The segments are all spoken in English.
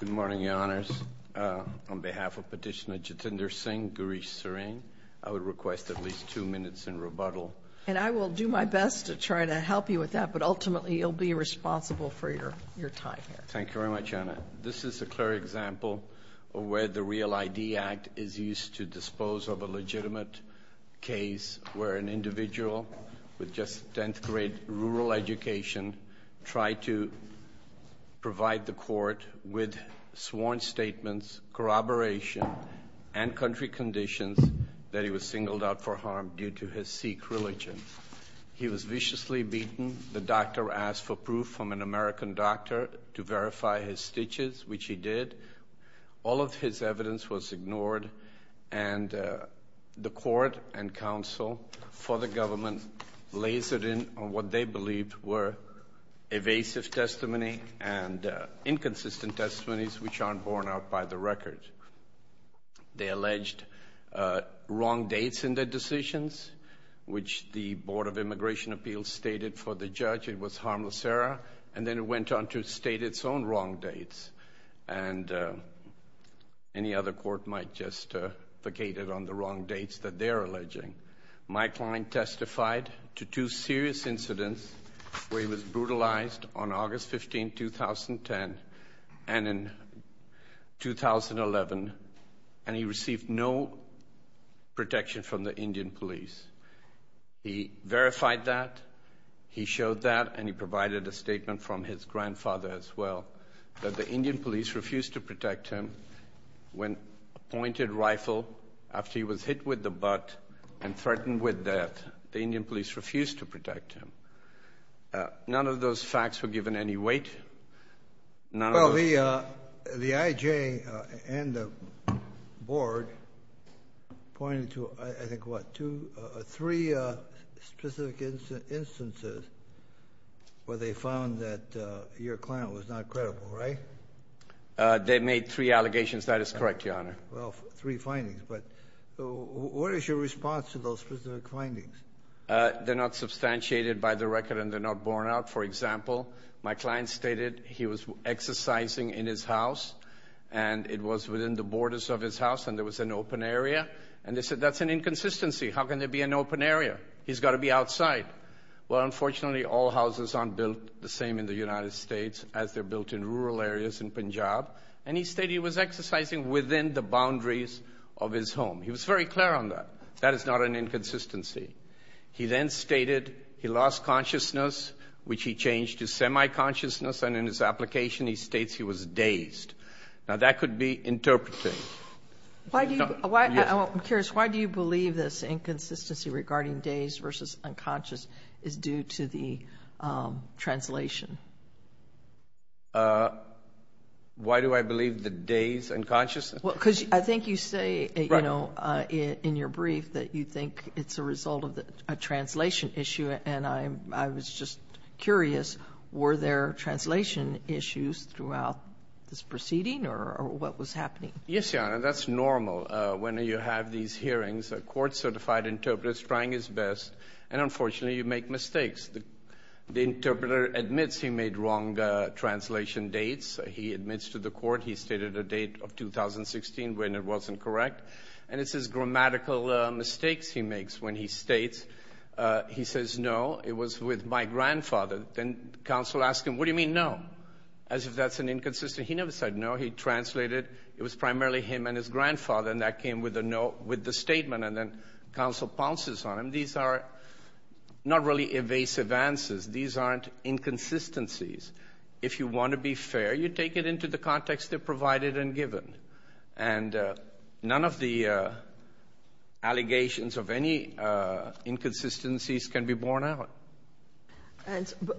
Good morning, Your Honors. On behalf of Petitioner Jitender Singh, Gaurish Sareen, I would request at least two minutes in rebuttal. And I will do my best to try to help you with that, but ultimately you'll be responsible for your time here. Thank you very much, Anna. This is a clear example of where the REAL ID Act is used to dispose of a legitimate case where an individual with just 10th grade rural education tried to provide the court with sworn statements, corroboration, and country conditions that he was singled out for harm due to his Sikh religion. He was viciously beaten. The doctor asked for proof from an American doctor to verify his stitches, which he did. All of his evidence was ignored, and the court and counsel for the government lasered in on what they believed were evasive testimony and inconsistent testimonies which aren't borne out by the record. They alleged wrong dates in their decisions, which the Board of Immigration Appeals stated for the judge it was harmless error, and then it went on to state its own wrong dates. And any other court might just vacate it on the wrong dates that they're alleging. Mike Klein testified to two serious incidents where he was brutalized on August 15, 2010, and in 2011, and he received no protection from the Indian police. He verified that, he showed that, and he provided a statement from his grandfather as well that the Indian police refused to protect him when appointed rifle after he was hit with the butt and threatened with death. The Indian police refused to protect him. None of those facts were given any weight. Well, the IJ and the board pointed to, I think, what, two, three specific instances where they found that your client was not credible, right? They made three allegations. That is correct, Your Honor. Well, three findings, but what is your response to those specific findings? They're not substantiated by the record, and they're not borne out. For example, my client stated he was exercising in his house, and it was within the borders of his house, and there was an open area. And they said that's an inconsistency. How can there be an open area? He's got to be outside. Well, unfortunately, all houses aren't built the same in the United States as they're built in rural areas in Punjab, and he stated he was exercising within the boundaries of his home. He was very clear on that. That is not an inconsistency. He then stated he lost consciousness, which he changed to semi-consciousness, and in his application he states he was dazed. Now, that could be interpreted. I'm curious. Why do you believe this inconsistency regarding dazed versus unconscious is due to the translation? Why do I believe the dazed unconsciousness? Well, because I think you say, you know, in your brief that you think it's a result of a translation issue, and I was just curious, were there translation issues throughout this proceeding, or what was happening? Yes, Your Honor, that's normal. When you have these hearings, a court-certified interpreter is trying his best, and unfortunately, you make mistakes. The interpreter admits he made wrong translation dates. He admits to the court he stated a date of 2016 when it wasn't correct, and it's his grammatical mistakes he makes when he states. He says, no, it was with my grandfather. Then counsel asks him, what do you mean no? As if that's an inconsistency. He never said no. He translated it was primarily him and his grandfather, and that came with the statement, and then counsel pounces on him. These are not really evasive answers. These aren't inconsistencies. If you want to be fair, you take it into the context that provided and given. And none of the allegations of any inconsistencies can be borne out. But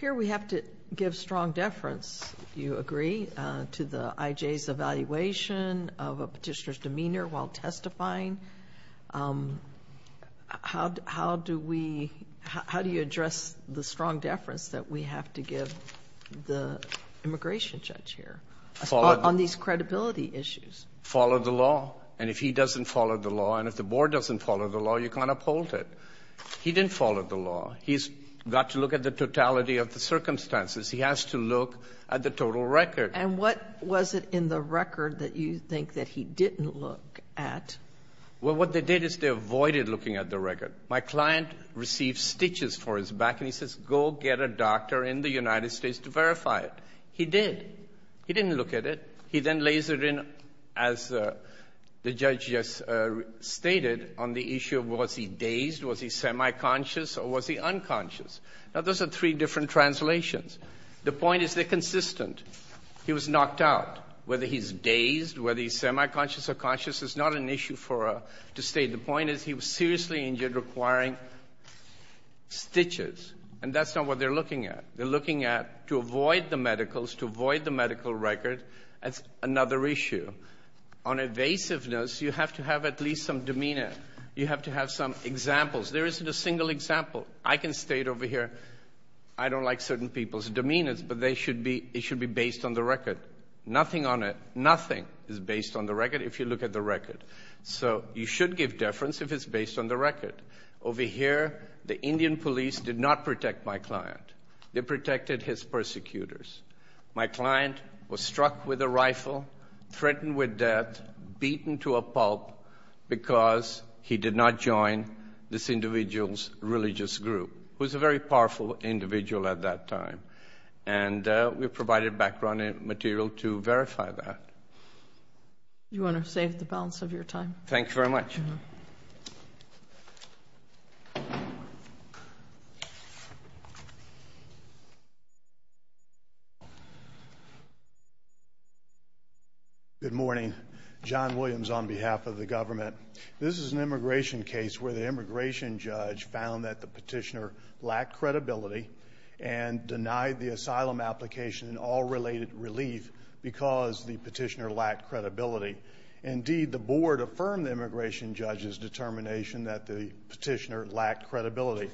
here we have to give strong deference, if you agree, to the IJ's evaluation of a Petitioner's demeanor while testifying. How do we — how do you address the strong deference that we have to give the immigration judge here on these credibility issues? Follow the law. And if he doesn't follow the law and if the board doesn't follow the law, you can't uphold it. He didn't follow the law. He's got to look at the totality of the circumstances. He has to look at the total record. Sotomayor, and what was it in the record that you think that he didn't look at? Well, what they did is they avoided looking at the record. My client received stitches for his back, and he says, go get a doctor in the United States to verify it. He did. He didn't look at it. He then lays it in, as the judge just stated, on the issue of was he dazed, was he semi-conscious, or was he unconscious. Now, those are three different translations. The point is they're consistent. He was knocked out, whether he's dazed, whether he's semi-conscious or conscious is not an issue for us to state. The point is he was seriously injured, requiring stitches. And that's not what they're looking at. They're looking at to avoid the medicals, to avoid the medical record. That's another issue. On evasiveness, you have to have at least some demeanor. You have to have some examples. There isn't a single example. I can state over here, I don't like certain people's demeanor, but they should be based on the record. Nothing on it, nothing is based on the record, if you look at the record. So you should give deference if it's based on the record. Over here, the Indian police did not protect my client. They protected his persecutors. My client was struck with a rifle, threatened with death, beaten to a pulp, because he did not join this individual's religious group, who was a very powerful individual at that time. And we provided background material to verify that. You want to save the balance of your time? Thank you very much. Good morning. John Williams on behalf of the government. This is an immigration case where the immigration judge found that the petitioner denied the asylum application and all related relief because the petitioner lacked credibility. Indeed, the board affirmed the immigration judge's determination that the petitioner lacked credibility.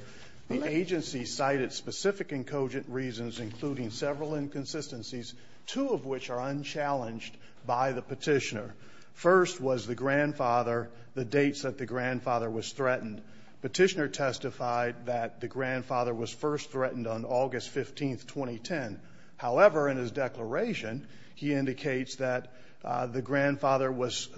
The agency cited specific and cogent reasons, including several inconsistencies, two of which are unchallenged by the petitioner. First was the grandfather, the dates that the grandfather was threatened. Petitioner testified that the grandfather was first threatened on August 15, 2010. However, in his declaration, he indicates that the grandfather was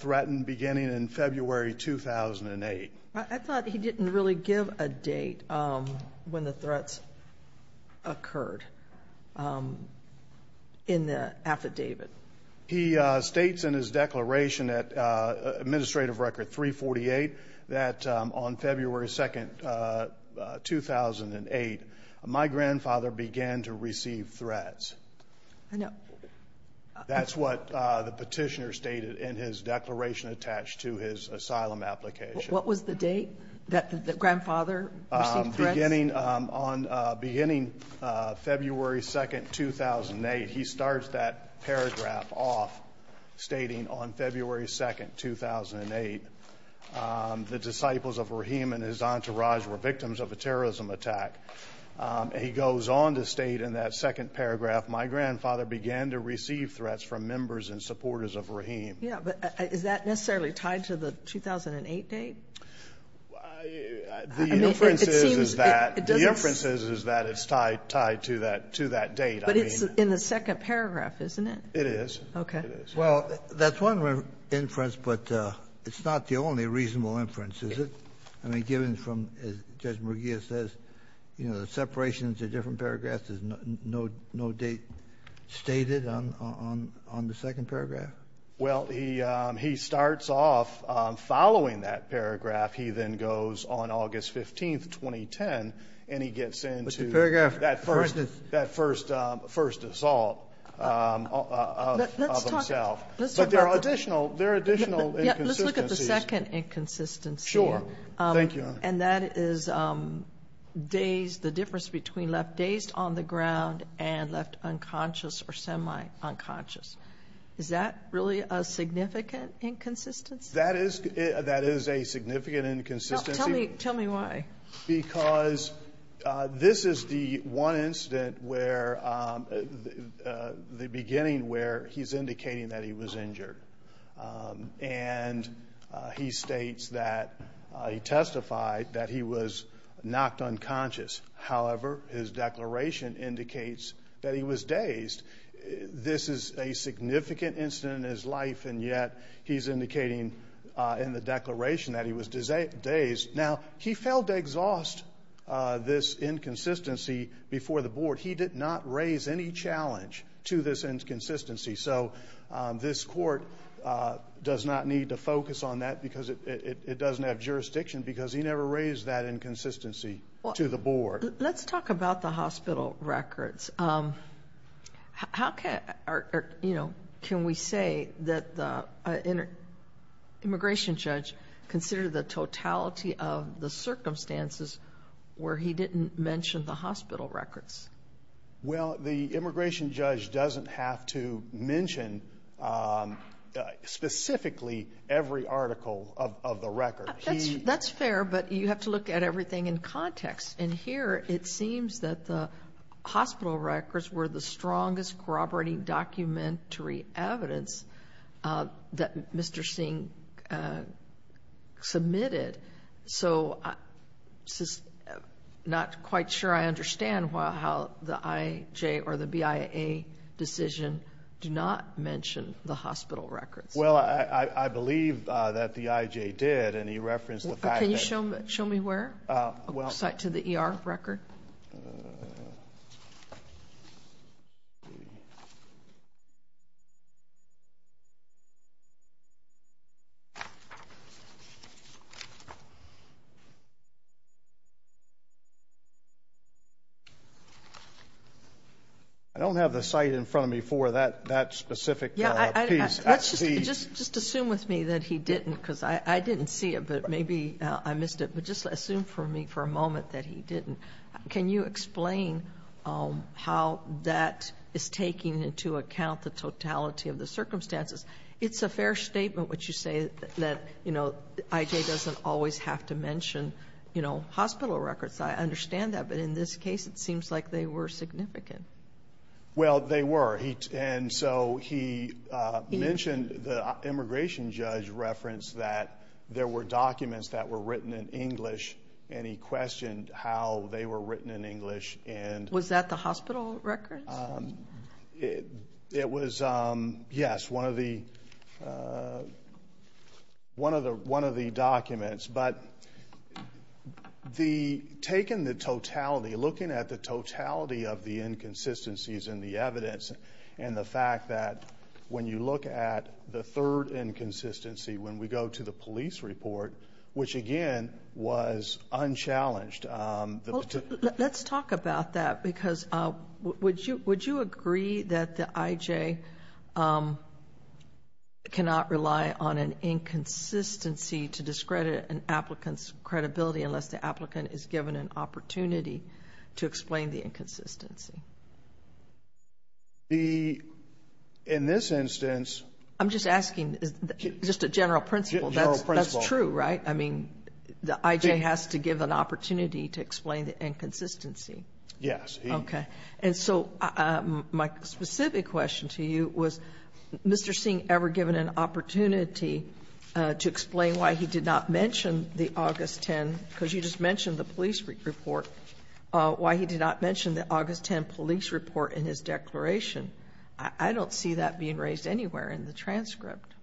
threatened beginning in February 2008. I thought he didn't really give a date when the threats occurred in the affidavit. He states in his declaration at administrative record 348 that on February 2, 2008, my grandfather began to receive threats. I know. That's what the petitioner stated in his declaration attached to his asylum application. What was the date that the grandfather received threats? Beginning February 2, 2008, he starts that paragraph off stating on February 2, 2008, the disciples of Rahim and his entourage were victims of a terrorism attack. He goes on to state in that second paragraph, my grandfather began to receive threats from members and supporters of Rahim. Yeah, but is that necessarily tied to the 2008 date? I mean, the inference is that it's tied to that date. But it's in the second paragraph, isn't it? It is. Okay. Well, that's one inference, but it's not the only reasonable inference, is it? I mean, given from, as Judge Murgia says, you know, the separation into different paragraphs, there's no date stated on the second paragraph? Well, he starts off following that paragraph. He then goes on August 15, 2010, and he gets into that first assault of himself. But there are additional inconsistencies. Let's look at the second inconsistency. Sure. Thank you, Your Honor. And that is the difference between left dazed on the ground and left unconscious or semi-unconscious. Is that really a significant inconsistency? That is a significant inconsistency. Tell me why. Because this is the one incident where the beginning where he's indicating that he was injured. And he states that he testified that he was knocked unconscious. However, his declaration indicates that he was dazed. This is a significant incident in his life, and yet he's indicating in the declaration that he was dazed. Now, he failed to exhaust this inconsistency before the board. He did not raise any challenge to this inconsistency. So this court does not need to focus on that because it doesn't have jurisdiction Let's talk about the hospital records. How can we say that the immigration judge considered the totality of the circumstances where he didn't mention the hospital records? Well, the immigration judge doesn't have to mention specifically every article of the record. That's fair, but you have to look at everything in context. And here it seems that the hospital records were the strongest corroborating documentary evidence that Mr. Singh submitted. So I'm not quite sure I understand how the IJ or the BIA decision did not mention the hospital records. Well, I believe that the IJ did, and he referenced the fact that Can you show me where? The site to the ER record? I don't have the site in front of me for that specific piece. Just assume with me that he didn't because I didn't see it, but maybe I missed it. But just assume for me for a moment that he didn't. Can you explain how that is taking into account the totality of the circumstances? It's a fair statement what you say that IJ doesn't always have to mention hospital records. I understand that, but in this case it seems like they were significant. Well, they were. And so he mentioned the immigration judge referenced that there were documents that were written in English, and he questioned how they were written in English. Was that the hospital records? It was, yes, one of the documents. But taking the totality, looking at the totality of the inconsistencies in the evidence and the fact that when you look at the third inconsistency, when we go to the police report, which, again, was unchallenged. Let's talk about that because would you agree that the IJ cannot rely on an inconsistency to discredit an applicant's credibility unless the applicant is given an opportunity to explain the inconsistency? In this instance. I'm just asking just a general principle. General principle. That's true, right? I mean, the IJ has to give an opportunity to explain the inconsistency. Yes. Okay. And so my specific question to you was, Mr. Singh ever given an opportunity to explain why he did not mention the August 10, because you just mentioned the police report, why he did not mention the August 10 police report in his declaration? I don't see that being raised anywhere in the transcript.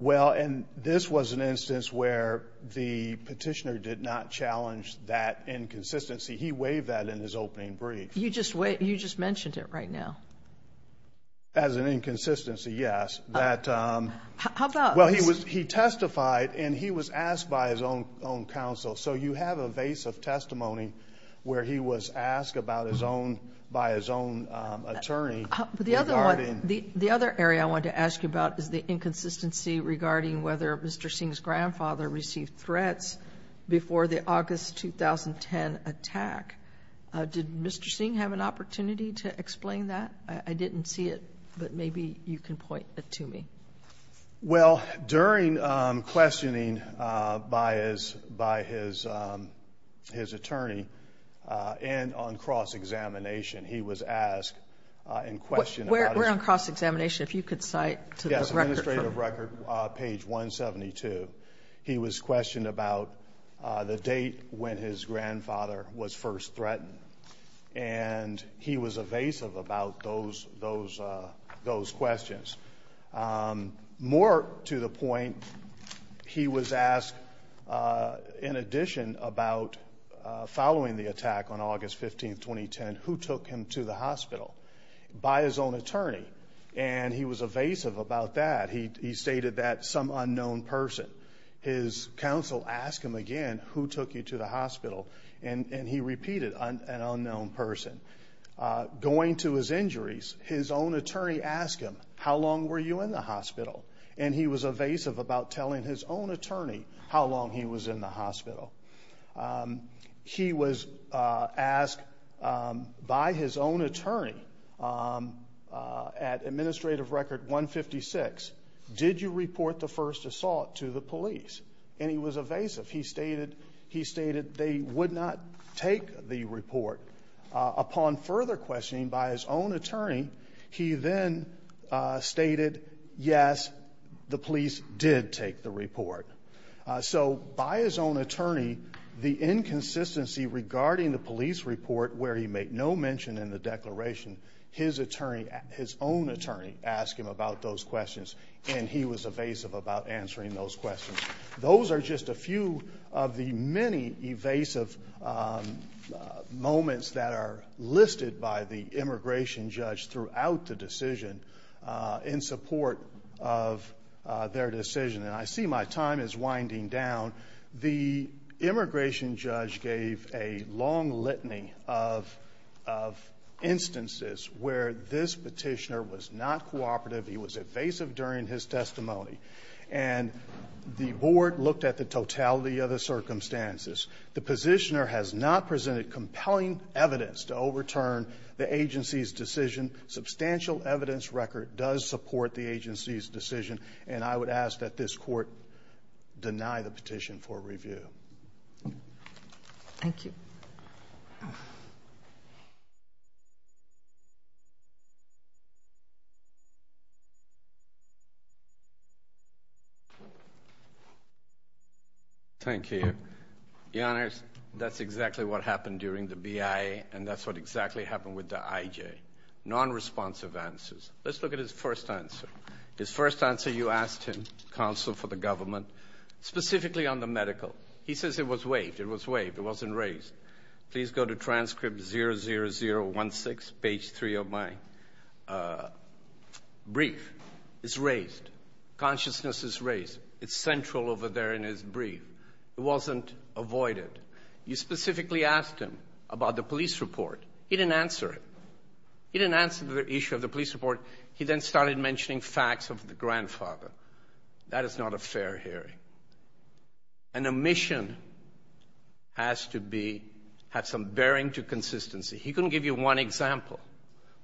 Well, and this was an instance where the petitioner did not challenge that inconsistency. He waived that in his opening brief. You just mentioned it right now. As an inconsistency, yes. How about? Well, he testified, and he was asked by his own counsel. So you have a vase of testimony where he was asked by his own attorney. The other area I wanted to ask you about is the inconsistency regarding whether Mr. Singh's grandfather received threats before the August 2010 attack. Did Mr. Singh have an opportunity to explain that? I didn't see it, but maybe you can point it to me. Well, during questioning by his attorney and on cross-examination, he was asked and questioned. We're on cross-examination. If you could cite to the record. Yes, administrative record, page 172. He was questioned about the date when his grandfather was first threatened, and he was evasive about those questions. More to the point, he was asked, in addition about following the attack on August 15, 2010, who took him to the hospital by his own attorney, and he was evasive about that. He stated that some unknown person. His counsel asked him again, who took you to the hospital, and he repeated, an unknown person. Going to his injuries, his own attorney asked him, how long were you in the hospital? And he was evasive about telling his own attorney how long he was in the hospital. He was asked by his own attorney at administrative record 156, did you report the first assault to the police? And he was evasive. He stated they would not take the report. Upon further questioning by his own attorney, he then stated, yes, the police did take the report. So by his own attorney, the inconsistency regarding the police report, where he made no mention in the declaration, his own attorney asked him about those questions, and he was evasive about answering those questions. Those are just a few of the many evasive moments that are listed by the immigration judge throughout the decision in support of their decision. And I see my time is winding down. The immigration judge gave a long litany of instances where this petitioner was not cooperative. He was evasive during his testimony. And the board looked at the totality of the circumstances. The petitioner has not presented compelling evidence to overturn the agency's decision. Substantial evidence record does support the agency's decision. And I would ask that this court deny the petition for review. Thank you. Thank you. Your Honors, that's exactly what happened during the BIA, and that's what exactly happened with the IJ, nonresponsive answers. Let's look at his first answer. His first answer, you asked him, counsel for the government, specifically on the medical. He says it was waived. It was waived. It wasn't raised. Please go to transcript 00016, page 3 of my brief. It's raised. Consciousness is raised. It's central over there in his brief. It wasn't avoided. You specifically asked him about the police report. He didn't answer it. He didn't answer the issue of the police report. He then started mentioning facts of the grandfather. That is not a fair hearing. An omission has to be, have some bearing to consistency. He couldn't give you one example.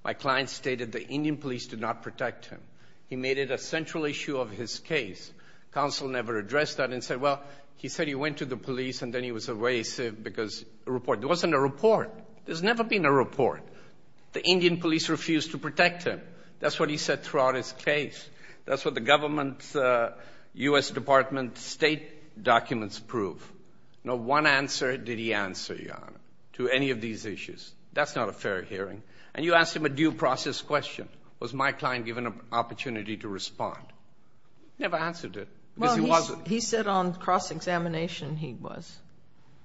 My client stated the Indian police did not protect him. He made it a central issue of his case. Counsel never addressed that and said, well, he said he went to the police and then he was evasive because a report. There wasn't a report. There's never been a report. The Indian police refused to protect him. That's what he said throughout his case. That's what the government, U.S. Department of State documents prove. No one answer did he answer, Your Honor, to any of these issues. That's not a fair hearing. And you asked him a due process question. Was my client given an opportunity to respond? He never answered it because he wasn't. Well, he said on cross-examination he was.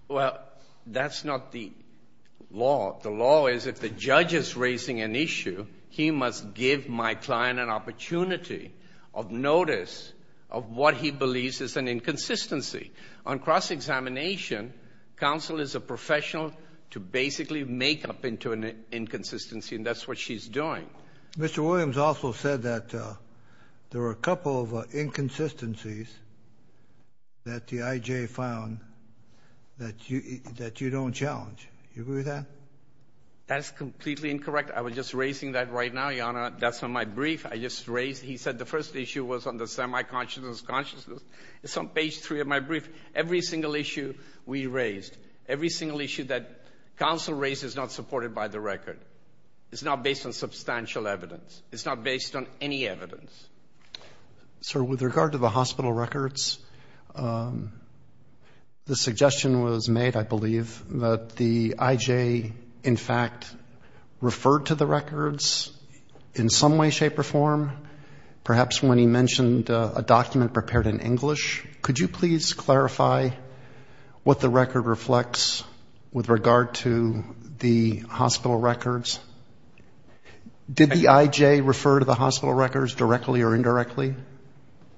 Well, that's not the law. The law is if the judge is raising an issue, he must give my client an opportunity of notice of what he believes is an inconsistency. On cross-examination, counsel is a professional to basically make up into an inconsistency, and that's what she's doing. Mr. Williams also said that there were a couple of inconsistencies that the IJ found that you don't challenge. Do you agree with that? That is completely incorrect. I was just raising that right now, Your Honor. That's on my brief. I just raised it. He said the first issue was on the semi-consciousness, consciousness. It's on page 3 of my brief. Every single issue we raised, every single issue that counsel raised is not supported by the record. It's not based on substantial evidence. It's not based on any evidence. Sir, with regard to the hospital records, the suggestion was made, I believe, that the IJ in fact referred to the records in some way, shape, or form, perhaps when he mentioned a document prepared in English. Could you please clarify what the record reflects with regard to the hospital records? Did the IJ refer to the hospital records directly or indirectly?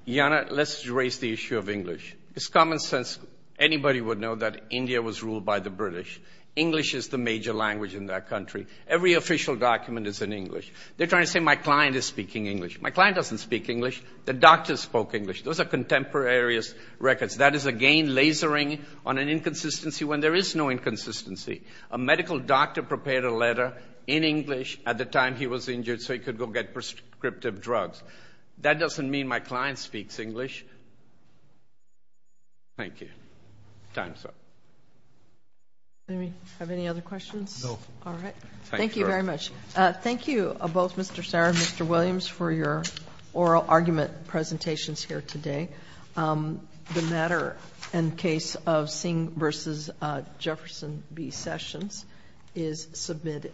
Your Honor, let's raise the issue of English. It's common sense. Anybody would know that India was ruled by the British. English is the major language in that country. Every official document is in English. They're trying to say my client is speaking English. My client doesn't speak English. The doctor spoke English. Those are contemporary records. That is, again, lasering on an inconsistency when there is no inconsistency. A medical doctor prepared a letter in English at the time he was injured so he could go get prescriptive drugs. That doesn't mean my client speaks English. Thank you. Time's up. Do we have any other questions? No. All right. Thank you very much. Thank you both, Mr. Sarra and Mr. Williams, for your oral argument presentations here today. The matter and case of Singh v. Jefferson v. Sessions is submitted.